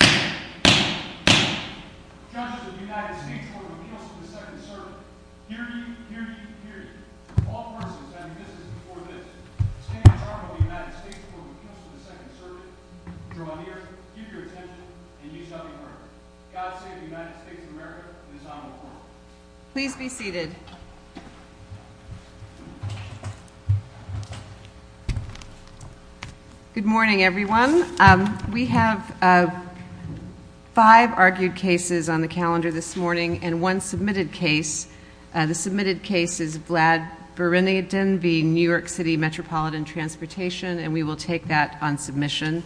Judge of the United States Court of Appeals to the Second Circuit, hear ye, hear ye, hear ye. All persons having business before this, standing apart from the United States Court of Appeals to the Second Circuit, draw near, give your attention, and use up your courage. God save the United States of America and his Honorable Court. Please be seated. Good morning, everyone. We have five argued cases on the calendar this morning, and one submitted case. The submitted case is Vlad Bereniden v. New York City Metropolitan Transportation, and we will take that on submission.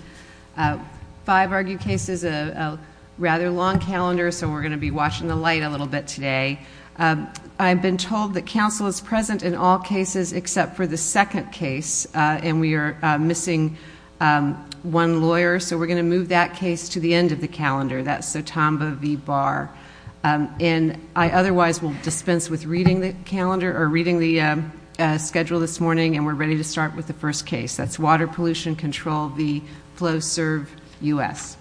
Five argued cases, a rather long calendar, so we're going to be watching the light a little bit today. I've been told that counsel is present in all cases except for the second case, and we are missing one lawyer, so we're going to move that case to the end of the calendar. That's Sotamba v. Barr. And I otherwise will dispense with reading the schedule this morning, and we're ready to start with the first case. That's Water Pollution Control v. FlowServe U.S.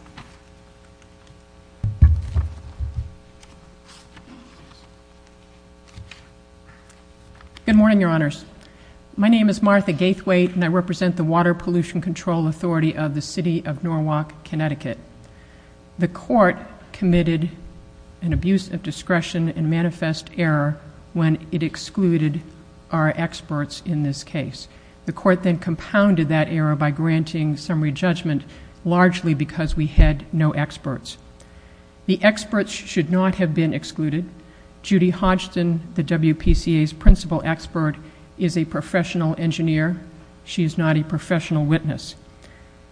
Good morning, Your Honors. My name is Martha Gaithwaite, and I represent the Water Pollution Control Authority of the City of Norwalk, Connecticut. The court committed an abuse of discretion and manifest error when it excluded our experts in this case. The court then compounded that error by granting summary judgment largely because we had no experts. The experts should not have been excluded. Judy Hodgson, the WPCA's principal expert, is a professional engineer. She is not a professional witness.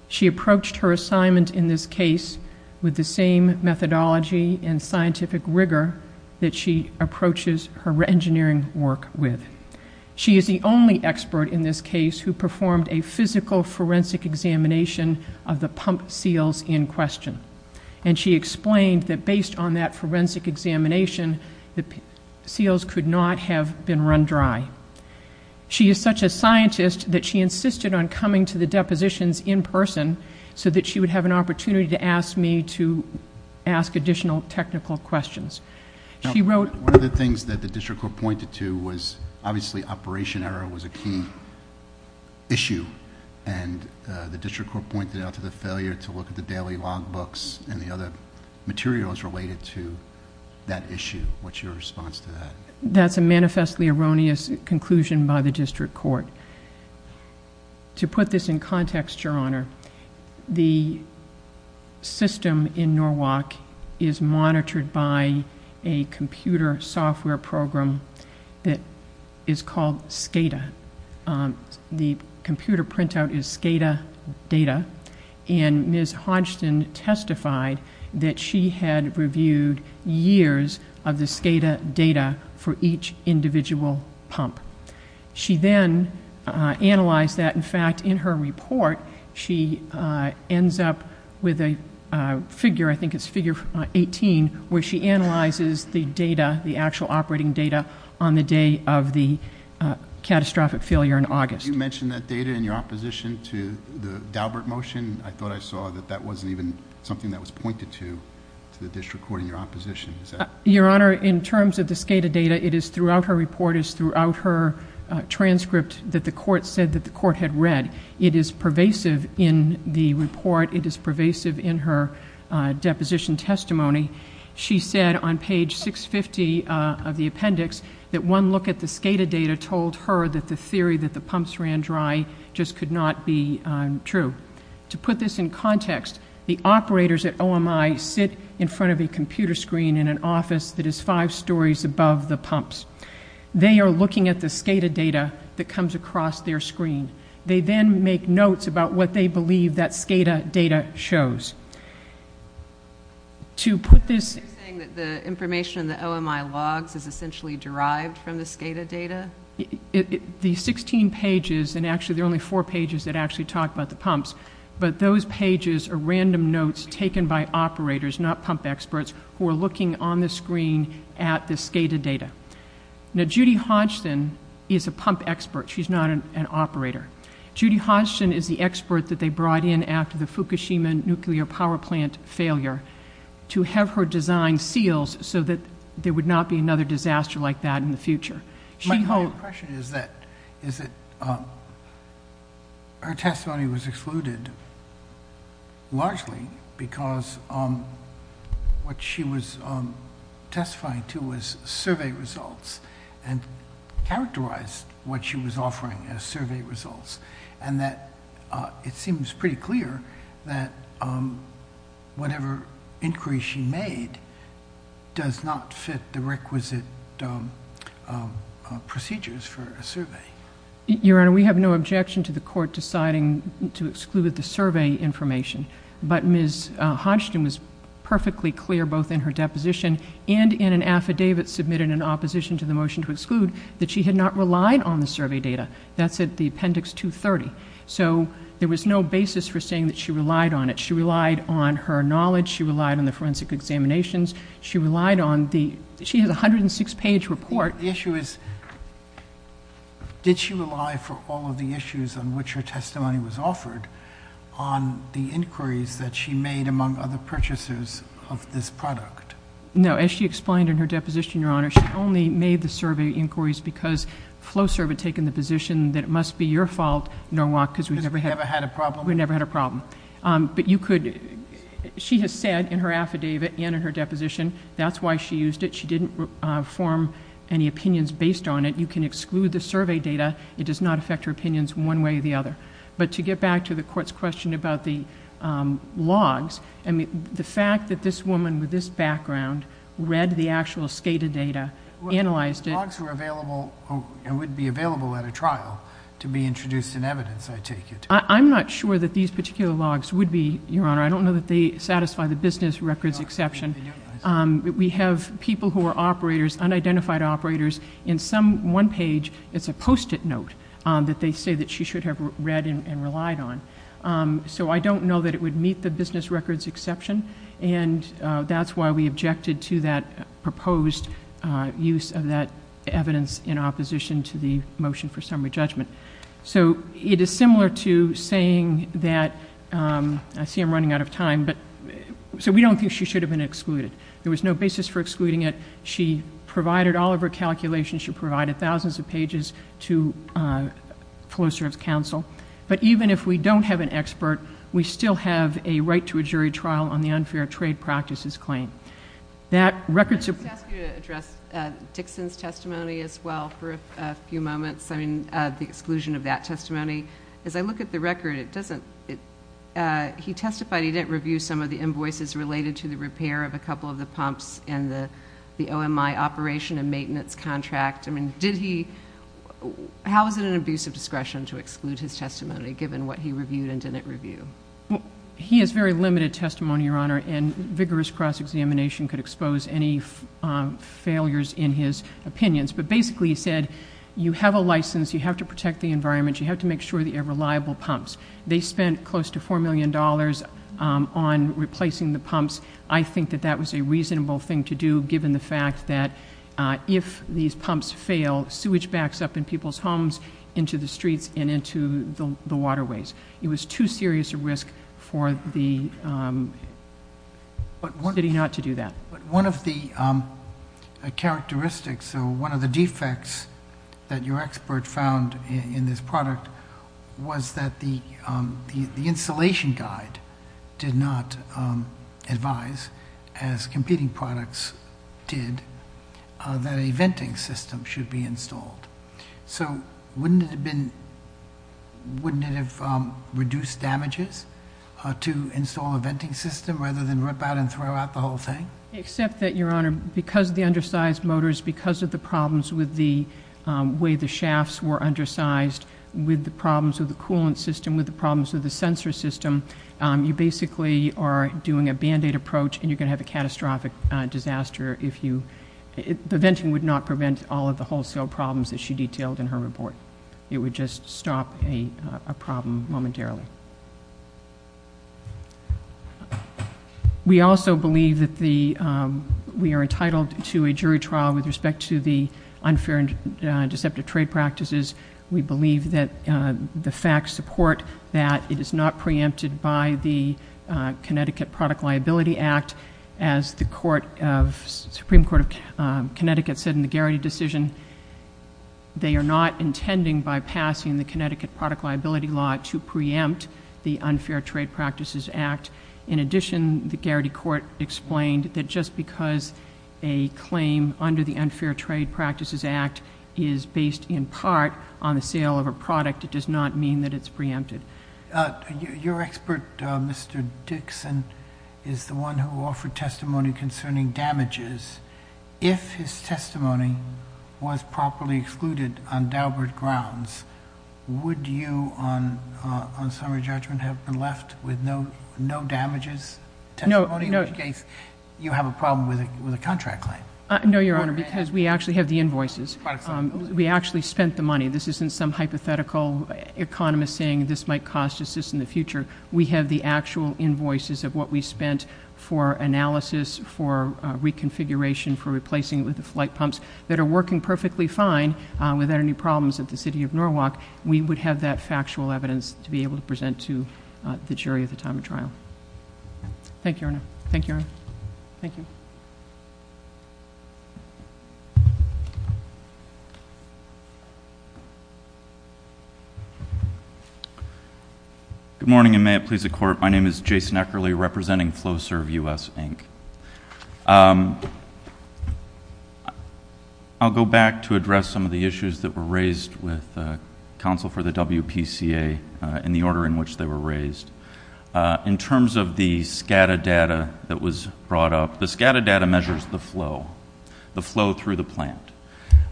She approached her assignment in this case with the same methodology and scientific rigor that she approaches her engineering work with. She is the only expert in this case who performed a physical forensic examination of the pump seals in question, and she explained that based on that forensic examination, the seals could not have been run dry. She is such a scientist that she insisted on coming to the depositions in person so that she would have an opportunity to ask me to ask additional technical questions. She wrote... One of the things that the district court pointed to was obviously operation error was a key issue, and the district court pointed out to the failure to look at the daily log books and the other materials related to that issue. What's your response to that? That's a manifestly erroneous conclusion by the district court. To put this in context, Your Honor, the system in Norwalk is monitored by a computer software program that is called SCADA. The computer printout is SCADA data, and Ms. Hodgson testified that she had reviewed years of the SCADA data for each individual pump. She then analyzed that. In fact, in her report, she ends up with a figure, I think it's figure 18, where she analyzes the data, the actual operating data, on the day of the catastrophic failure in August. You mentioned that data in your opposition to the Daubert motion. I thought I saw that that wasn't even something that was pointed to, to the district court in your opposition. Your Honor, in terms of the SCADA data, it is throughout her report, it is throughout her transcript that the court said that the court had read. It is pervasive in the report. It is pervasive in her deposition testimony. She said on page 650 of the appendix that one look at the SCADA data told her that the theory that the pumps ran dry just could not be true. To put this in context, the operators at OMI sit in front of a computer screen in an office that is five stories above the pumps. They are looking at the SCADA data that comes across their screen. They then make notes about what they believe that SCADA data shows. To put this- You're saying that the information in the OMI logs is essentially derived from the SCADA data? The 16 pages, and actually there are only four pages that actually talk about the pumps, but those pages are random notes taken by operators, not pump experts, who are looking on the screen at the SCADA data. Judy Hodgson is a pump expert. She's not an operator. Judy Hodgson is the expert that they brought in after the Fukushima nuclear power plant failure to have her design seals so that there would not be another disaster like that in the future. My impression is that her testimony was excluded largely because what she was testifying to was survey results and characterized what she was offering as survey results, and that it seems pretty clear that whatever inquiry she made does not fit the requisite procedures for a survey. Your Honor, we have no objection to the court deciding to exclude the survey information, but Ms. Hodgson was perfectly clear both in her deposition and in an affidavit submitted in opposition to the motion to exclude that she had not relied on the survey data. That's at the appendix 230. So there was no basis for saying that she relied on it. She relied on her knowledge. She relied on the forensic examinations. She relied on the—she has a 106-page report. The issue is, did she rely for all of the issues on which her testimony was offered on the inquiries that she made among other purchasers of this product? No. As she explained in her deposition, Your Honor, she only made the survey inquiries because Flosser had taken the position that it must be your fault, Norwalk, because we never had a problem. We never had a problem. But you could—she has said in her affidavit and in her deposition that's why she used it. She didn't form any opinions based on it. You can exclude the survey data. It does not affect her opinions one way or the other. But to get back to the Court's question about the logs, I mean, the fact that this woman with this background read the actual SCADA data, analyzed it— The logs were available and would be available at a trial to be introduced in evidence, I take it. I'm not sure that these particular logs would be, Your Honor. I don't know that they satisfy the business records exception. We have people who are operators, unidentified operators. In some one page, it's a post-it note that they say that she should have read and relied on. So I don't know that it would meet the business records exception, and that's why we objected to that proposed use of that evidence in opposition to the motion for summary judgment. So it is similar to saying that—I see I'm running out of time, but—so we don't think she should have been excluded. There was no basis for excluding it. She provided all of her calculations. She provided thousands of pages to Floor Service Counsel. But even if we don't have an expert, we still have a right to a jury trial on the unfair trade practices claim. That records— Let me just ask you to address Dixon's testimony as well for a few moments. I mean, the exclusion of that testimony. As I look at the record, it doesn't—he testified he didn't review some of the invoices related to the repair of a couple of the pumps and the OMI operation and maintenance contract. I mean, did he—how is it an abuse of discretion to exclude his testimony, given what he reviewed and didn't review? He has very limited testimony, Your Honor, and vigorous cross-examination could expose any failures in his opinions. But basically he said you have a license, you have to protect the environment, you have to make sure that you have reliable pumps. They spent close to $4 million on replacing the pumps. I think that that was a reasonable thing to do, given the fact that if these pumps fail, sewage backs up in people's homes, into the streets, and into the waterways. It was too serious a risk for the city not to do that. One of the characteristics or one of the defects that your expert found in this product was that the installation guide did not advise, as competing products did, that a venting system should be installed. So wouldn't it have been—wouldn't it have reduced damages to install a venting system rather than rip out and throw out the whole thing? Except that, Your Honor, because of the undersized motors, because of the problems with the way the shafts were undersized, with the problems of the coolant system, with the problems of the sensor system, you basically are doing a Band-Aid approach, and you're going to have a catastrophic disaster if you— the venting would not prevent all of the wholesale problems that she detailed in her report. It would just stop a problem momentarily. We also believe that the—we are entitled to a jury trial with respect to the unfair and deceptive trade practices. We believe that the facts support that it is not preempted by the Connecticut Product Liability Act. As the Supreme Court of Connecticut said in the Garrity decision, they are not intending by passing the Connecticut Product Liability Law to preempt the Unfair Trade Practices Act. In addition, the Garrity court explained that just because a claim under the Unfair Trade Practices Act is based in part on the sale of a product, it does not mean that it's preempted. Your expert, Mr. Dixon, is the one who offered testimony concerning damages. If his testimony was properly excluded on Daubert grounds, would you, on summary judgment, have been left with no damages testimony? In which case, you have a problem with a contract claim. No, Your Honor, because we actually have the invoices. We actually spent the money. This isn't some hypothetical economist saying this might cost us this in the future. We have the actual invoices of what we spent for analysis, for reconfiguration, for replacing it with the flight pumps that are working perfectly fine without any problems at the City of Norwalk. We would have that factual evidence to be able to present to the jury at the time of trial. Thank you, Your Honor. Thank you, Your Honor. Thank you. Good morning, and may it please the Court. My name is Jason Eckerly, representing FlowServe U.S. Inc. I'll go back to address some of the issues that were raised with counsel for the WPCA in the order in which they were raised. In terms of the SCADA data that was brought up, the SCADA data measures the flow, the flow through the plant.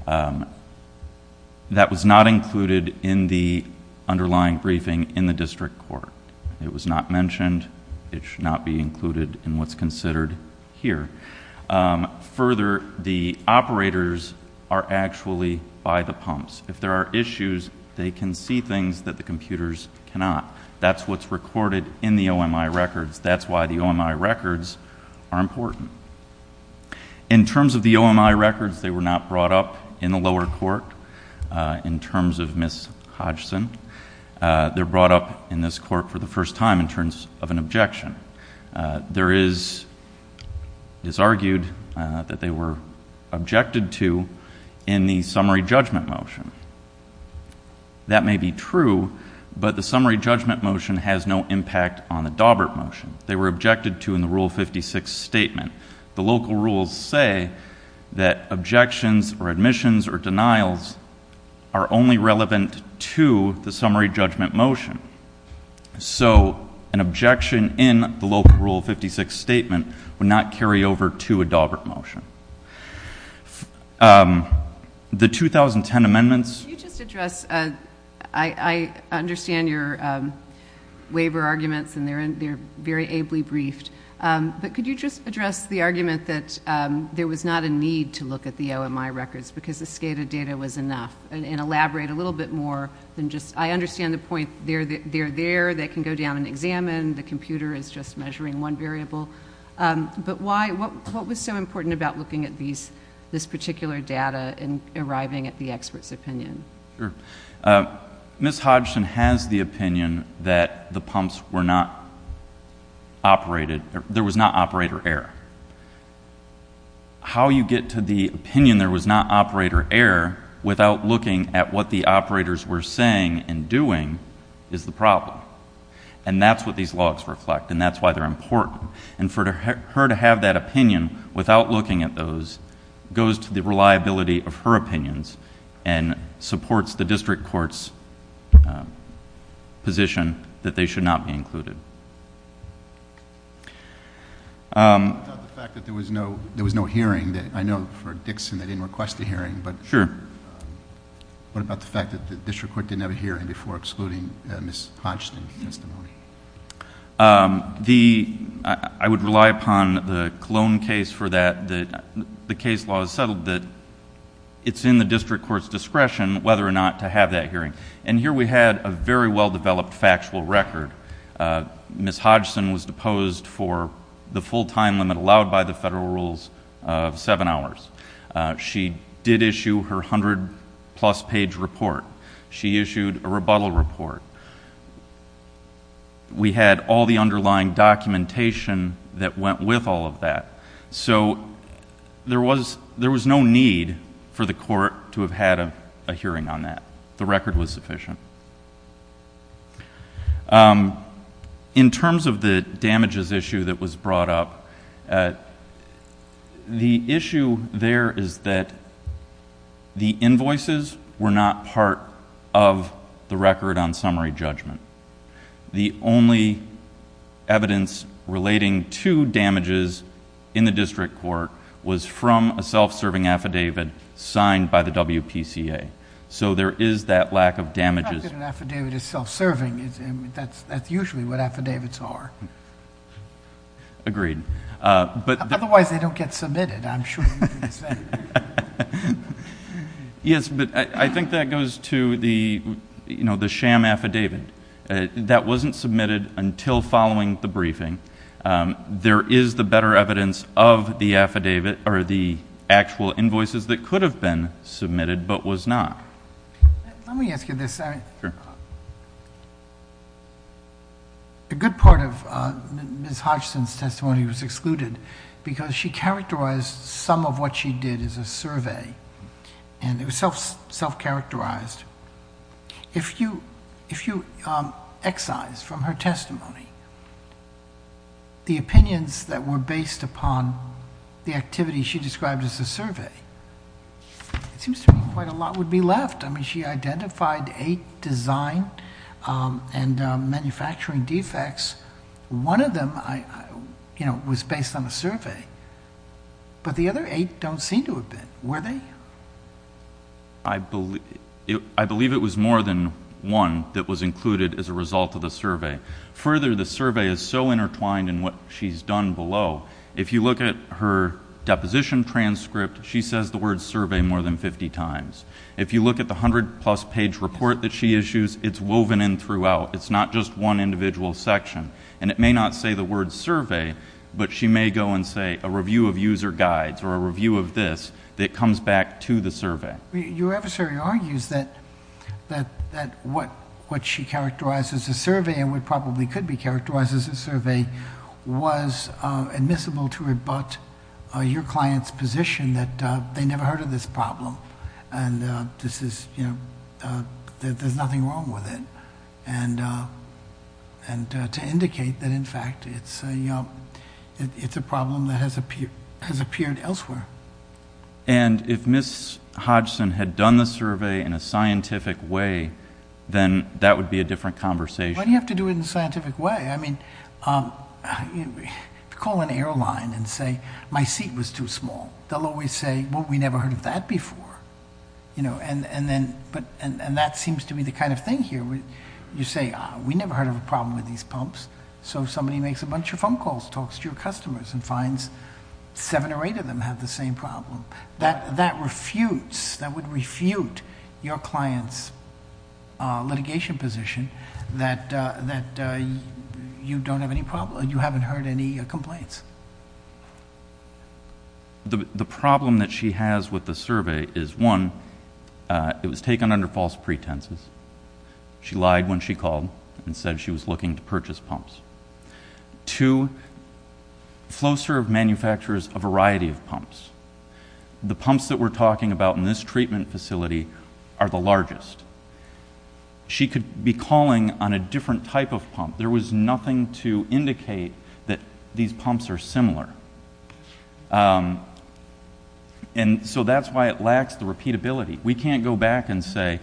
That was not included in the underlying briefing in the district court. It was not mentioned. It should not be included in what's considered here. Further, the operators are actually by the pumps. If there are issues, they can see things that the computers cannot. That's what's recorded in the OMI records. That's why the OMI records are important. In terms of the OMI records, they were not brought up in the lower court in terms of Ms. Hodgson. They're brought up in this court for the first time in terms of an objection. There is argued that they were objected to in the summary judgment motion. That may be true, but the summary judgment motion has no impact on the Daubert motion. They were objected to in the Rule 56 statement. The local rules say that objections or admissions or denials are only relevant to the summary judgment motion. So an objection in the local Rule 56 statement would not carry over to a Daubert motion. The 2010 amendments. I understand your waiver arguments, and they're very ably briefed. But could you just address the argument that there was not a need to look at the OMI records because the SCADA data was enough and elaborate a little bit more? I understand the point. They're there. They can go down and examine. The computer is just measuring one variable. But what was so important about looking at this particular data and arriving at the expert's opinion? Sure. Ms. Hodgson has the opinion that there was not operator error. How you get to the opinion there was not operator error without looking at what the operators were saying and doing is the problem. That's what these logs reflect, and that's why they're important. For her to have that opinion without looking at those goes to the reliability of her opinions and supports the district court's position that they should not be included. What about the fact that there was no hearing? I know for Dixon they didn't request a hearing. Sure. What about the fact that the district court didn't have a hearing before excluding Ms. Hodgson's testimony? I would rely upon the Cologne case for that. The case law has settled that it's in the district court's discretion whether or not to have that hearing. Here we had a very well-developed factual record. Ms. Hodgson was deposed for the full time limit allowed by the federal rules of seven hours. She did issue her 100-plus page report. She issued a rebuttal report. We had all the underlying documentation that went with all of that. So there was no need for the court to have had a hearing on that. The record was sufficient. In terms of the damages issue that was brought up, the issue there is that the invoices were not part of the record on summary judgment. The only evidence relating to damages in the district court was from a self-serving affidavit signed by the WPCA. So there is that lack of damages... That's usually what affidavits are. Agreed. Otherwise they don't get submitted, I'm sure. Yes, but I think that goes to the sham affidavit. That wasn't submitted until following the briefing. There is the better evidence of the actual invoices that could have been submitted but was not. Let me ask you this. A good part of Ms. Hodgson's testimony was excluded because she characterized some of what she did as a survey. It was self-characterized. If you excise from her testimony the opinions that were based upon the activity she described as a survey, it seems to me quite a lot would be left. I mean, she identified eight design and manufacturing defects. One of them was based on a survey, but the other eight don't seem to have been. Were they? I believe it was more than one that was included as a result of the survey. Further, the survey is so intertwined in what she's done below. If you look at her deposition transcript, she says the word survey more than 50 times. If you look at the 100-plus page report that she issues, it's woven in throughout. It's not just one individual section, and it may not say the word survey, but she may go and say a review of user guides or a review of this that comes back to the survey. Your adversary argues that what she characterized as a survey and what probably could be characterized as a survey was admissible to rebut your client's position that they never heard of this problem and that there's nothing wrong with it, and to indicate that, in fact, it's a problem that has appeared elsewhere. And if Ms. Hodgson had done the survey in a scientific way, then that would be a different conversation. Why do you have to do it in a scientific way? Call an airline and say, my seat was too small. They'll always say, well, we never heard of that before. And that seems to be the kind of thing here. You say, we never heard of a problem with these pumps, so somebody makes a bunch of phone calls, talks to your customers, and finds seven or eight of them have the same problem. That refutes, that would refute your client's litigation position that you don't have any problem, you haven't heard any complaints. The problem that she has with the survey is, one, it was taken under false pretenses. She lied when she called and said she was looking to purchase pumps. Two, FlowServe manufactures a variety of pumps. The pumps that we're talking about in this treatment facility are the largest. She could be calling on a different type of pump. There was nothing to indicate that these pumps are similar. And so that's why it lacks the repeatability. We can't go back and say,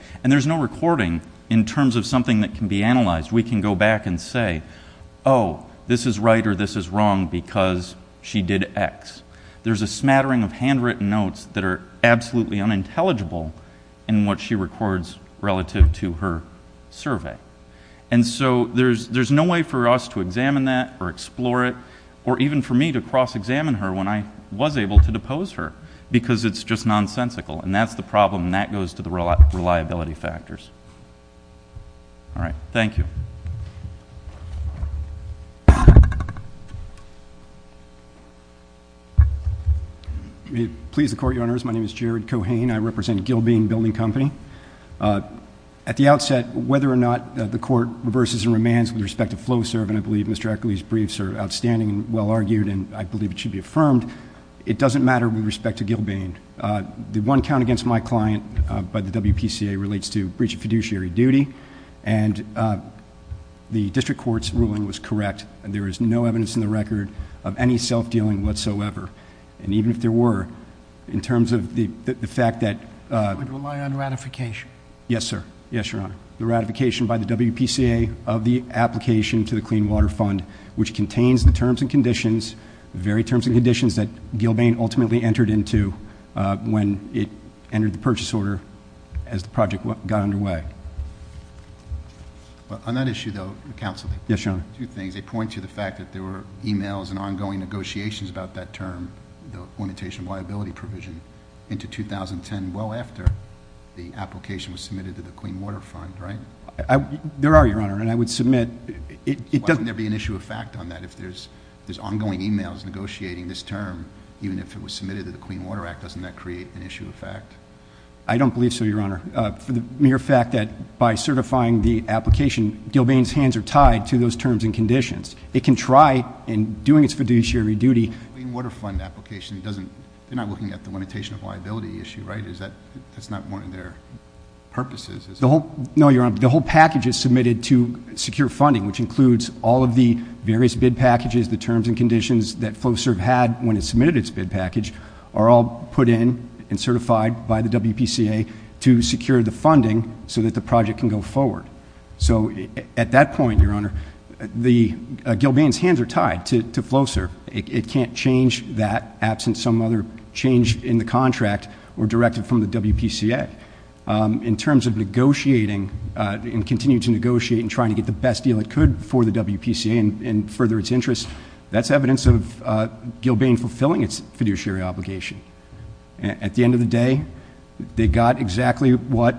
Oh, this is right or this is wrong because she did X. There's a smattering of handwritten notes that are absolutely unintelligible in what she records relative to her survey. And so there's no way for us to examine that or explore it or even for me to cross-examine her when I was able to depose her because it's just nonsensical. And that's the problem, and that goes to the reliability factors. All right. Thank you. May it please the Court, Your Honors. My name is Jared Cohane. I represent Gilbane Building Company. At the outset, whether or not the Court reverses and remands with respect to FlowServe, and I believe Mr. Eccles' briefs are outstanding and well-argued and I believe it should be affirmed, it doesn't matter with respect to Gilbane. The one count against my client by the WPCA relates to breach of fiduciary duty, and the district court's ruling was correct. There is no evidence in the record of any self-dealing whatsoever. And even if there were, in terms of the fact that... I would rely on ratification. Yes, sir. Yes, Your Honor. The ratification by the WPCA of the application to the Clean Water Fund, which contains the terms and conditions, the very terms and conditions that Gilbane ultimately entered into when it entered the purchase order as the project got underway. On that issue, though, Counsel, two things. Yes, Your Honor. They point to the fact that there were e-mails and ongoing negotiations about that term, the orientation liability provision, into 2010, well after the application was submitted to the Clean Water Fund, right? There are, Your Honor, and I would submit... Why wouldn't there be an issue of fact on that? If there's ongoing e-mails negotiating this term, even if it was submitted to the Clean Water Act, doesn't that create an issue of fact? I don't believe so, Your Honor. For the mere fact that by certifying the application, Gilbane's hands are tied to those terms and conditions. It can try in doing its fiduciary duty... The Clean Water Fund application doesn't... They're not looking at the limitation of liability issue, right? That's not one of their purposes, is it? No, Your Honor. The whole package is submitted to secure funding, which includes all of the various bid packages, the terms and conditions that FlowServe had when it submitted its bid package, are all put in and certified by the WPCA to secure the funding so that the project can go forward. So, at that point, Your Honor, Gilbane's hands are tied to FlowServe. It can't change that absent some other change in the contract or directed from the WPCA. In terms of negotiating and continuing to negotiate and trying to get the best deal it could for the WPCA and further its interest, that's evidence of Gilbane fulfilling its fiduciary obligation. At the end of the day, they got exactly what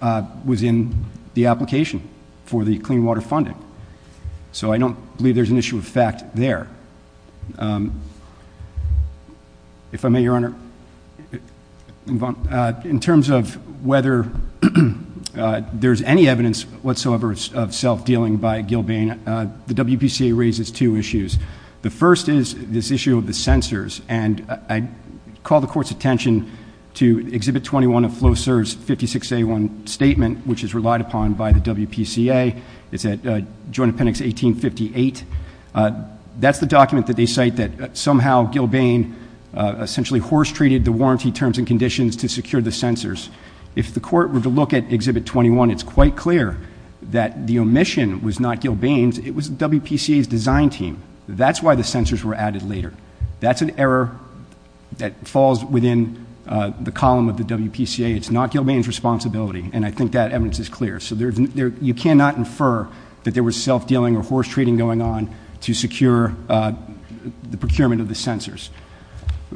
was in the application for the clean water funding. So, I don't believe there's an issue of fact there. If I may, Your Honor, in terms of whether there's any evidence whatsoever of self-dealing by Gilbane, the WPCA raises two issues. The first is this issue of the censors. And I call the Court's attention to Exhibit 21 of FlowServe's 56A1 statement, which is relied upon by the WPCA. It's at Joint Appendix 1858. That's the document that they cite that somehow Gilbane essentially horse-treated the warranty terms and conditions to secure the censors. If the Court were to look at Exhibit 21, it's quite clear that the omission was not Gilbane's. It was WPCA's design team. That's why the censors were added later. That's an error that falls within the column of the WPCA. It's not Gilbane's responsibility. And I think that evidence is clear. So you cannot infer that there was self-dealing or horse-treating going on to secure the procurement of the censors.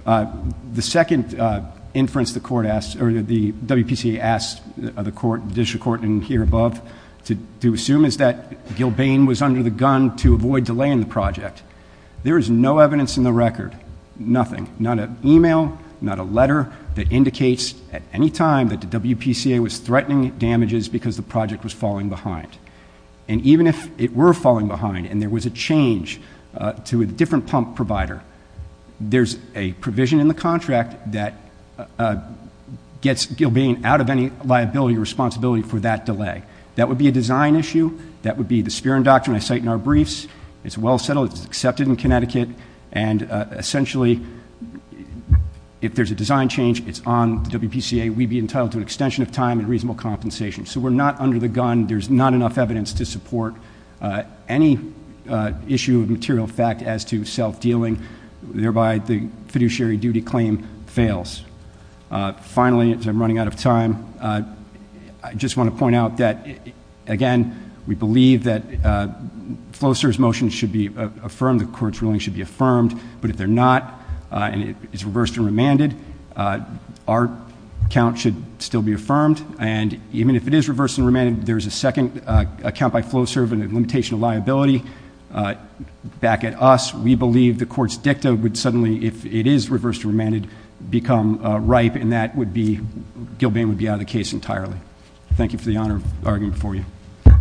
The second inference the WPCA asked the District Court and here above to assume is that Gilbane was under the gun to avoid delaying the project. There is no evidence in the record. Nothing. Not an e-mail, not a letter that indicates at any time that the WPCA was threatening damages because the project was falling behind. And even if it were falling behind and there was a change to a different pump provider, there's a provision in the contract that gets Gilbane out of any liability or responsibility for that delay. That would be a design issue. That would be the spearing doctrine I cite in our briefs. It's well settled. It's accepted in Connecticut. And essentially, if there's a design change, it's on the WPCA. We'd be entitled to an extension of time and reasonable compensation. So we're not under the gun. There's not enough evidence to support any issue of material fact as to self-dealing, thereby the fiduciary duty claim fails. Finally, as I'm running out of time, I just want to point out that, again, we believe that FloServe's motion should be affirmed, the court's ruling should be affirmed. But if they're not and it's reversed and remanded, our count should still be affirmed. And even if it is reversed and remanded, there's a second count by FloServe and a limitation of liability back at us. We believe the court's dicta would suddenly, if it is reversed and remanded, become ripe, and Gilbane would be out of the case entirely. Thank you for the honor of arguing before you. Thank you.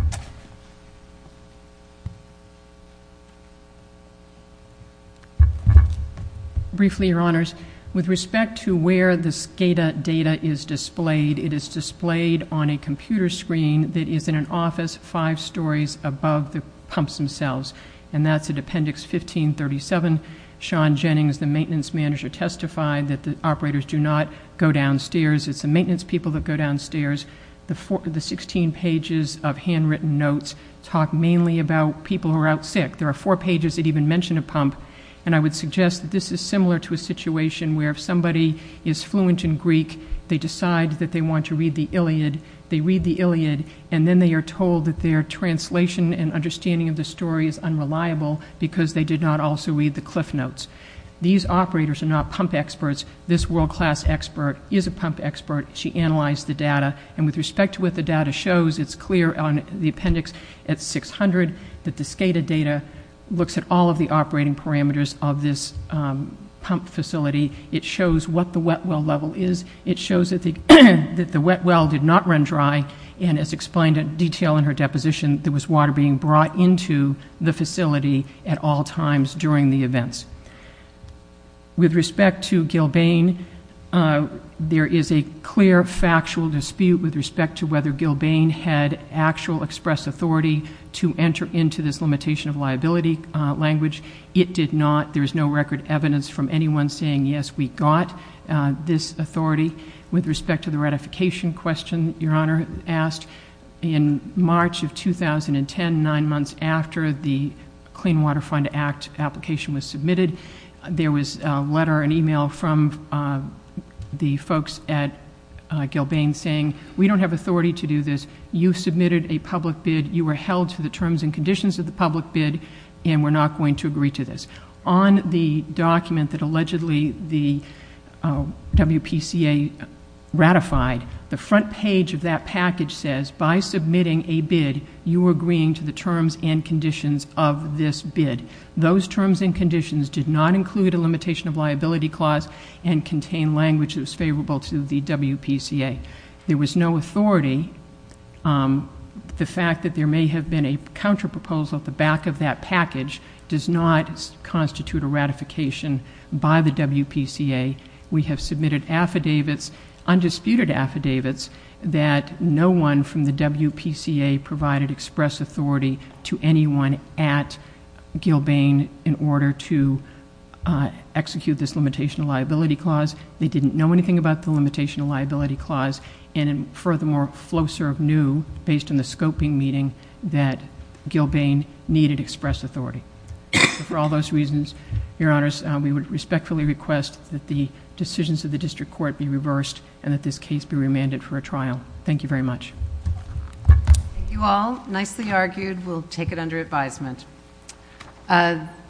Briefly, your honors, with respect to where this data is displayed, it is displayed on a computer screen that is in an office five stories above the pumps themselves, and that's at appendix 1537. Sean Jennings, the maintenance manager, testified that the operators do not go downstairs. It's the maintenance people that go downstairs. The 16 pages of handwritten notes talk mainly about people who are out sick. There are four pages that even mention a pump. And I would suggest that this is similar to a situation where if somebody is fluent in Greek, they decide that they want to read the Iliad, they read the Iliad, and then they are told that their translation and understanding of the story is unreliable because they did not also read the cliff notes. These operators are not pump experts. This world-class expert is a pump expert. She analyzed the data, and with respect to what the data shows, it's clear on the appendix at 600 that the SCADA data looks at all of the operating parameters of this pump facility. It shows what the wet well level is. It shows that the wet well did not run dry, and as explained in detail in her deposition, there was water being brought into the facility at all times during the events. With respect to Gilbane, there is a clear factual dispute with respect to whether Gilbane had actual express authority to enter into this limitation of liability language. It did not. There is no record evidence from anyone saying, yes, we got this authority. With respect to the ratification question Your Honor asked, in March of 2010, nine months after the Clean Water Fund Act application was submitted, there was a letter, an email from the folks at Gilbane saying, we don't have authority to do this. You submitted a public bid. You were held to the terms and conditions of the public bid, and we're not going to agree to this. On the document that allegedly the WPCA ratified, the front page of that package says, by submitting a bid, you are agreeing to the terms and conditions of this bid. Those terms and conditions did not include a limitation of liability clause and contain language that was favorable to the WPCA. There was no authority. The fact that there may have been a counterproposal at the back of that package does not constitute a ratification by the WPCA. We have submitted affidavits, undisputed affidavits, that no one from the WPCA provided express authority to anyone at Gilbane in order to execute this limitation of liability clause. They didn't know anything about the limitation of liability clause. Furthermore, Floserve knew, based on the scoping meeting, that Gilbane needed express authority. For all those reasons, Your Honors, we would respectfully request that the decisions of the district court be reversed and that this case be remanded for a trial. Thank you very much. Thank you all. Nicely argued. We'll take it under advisement.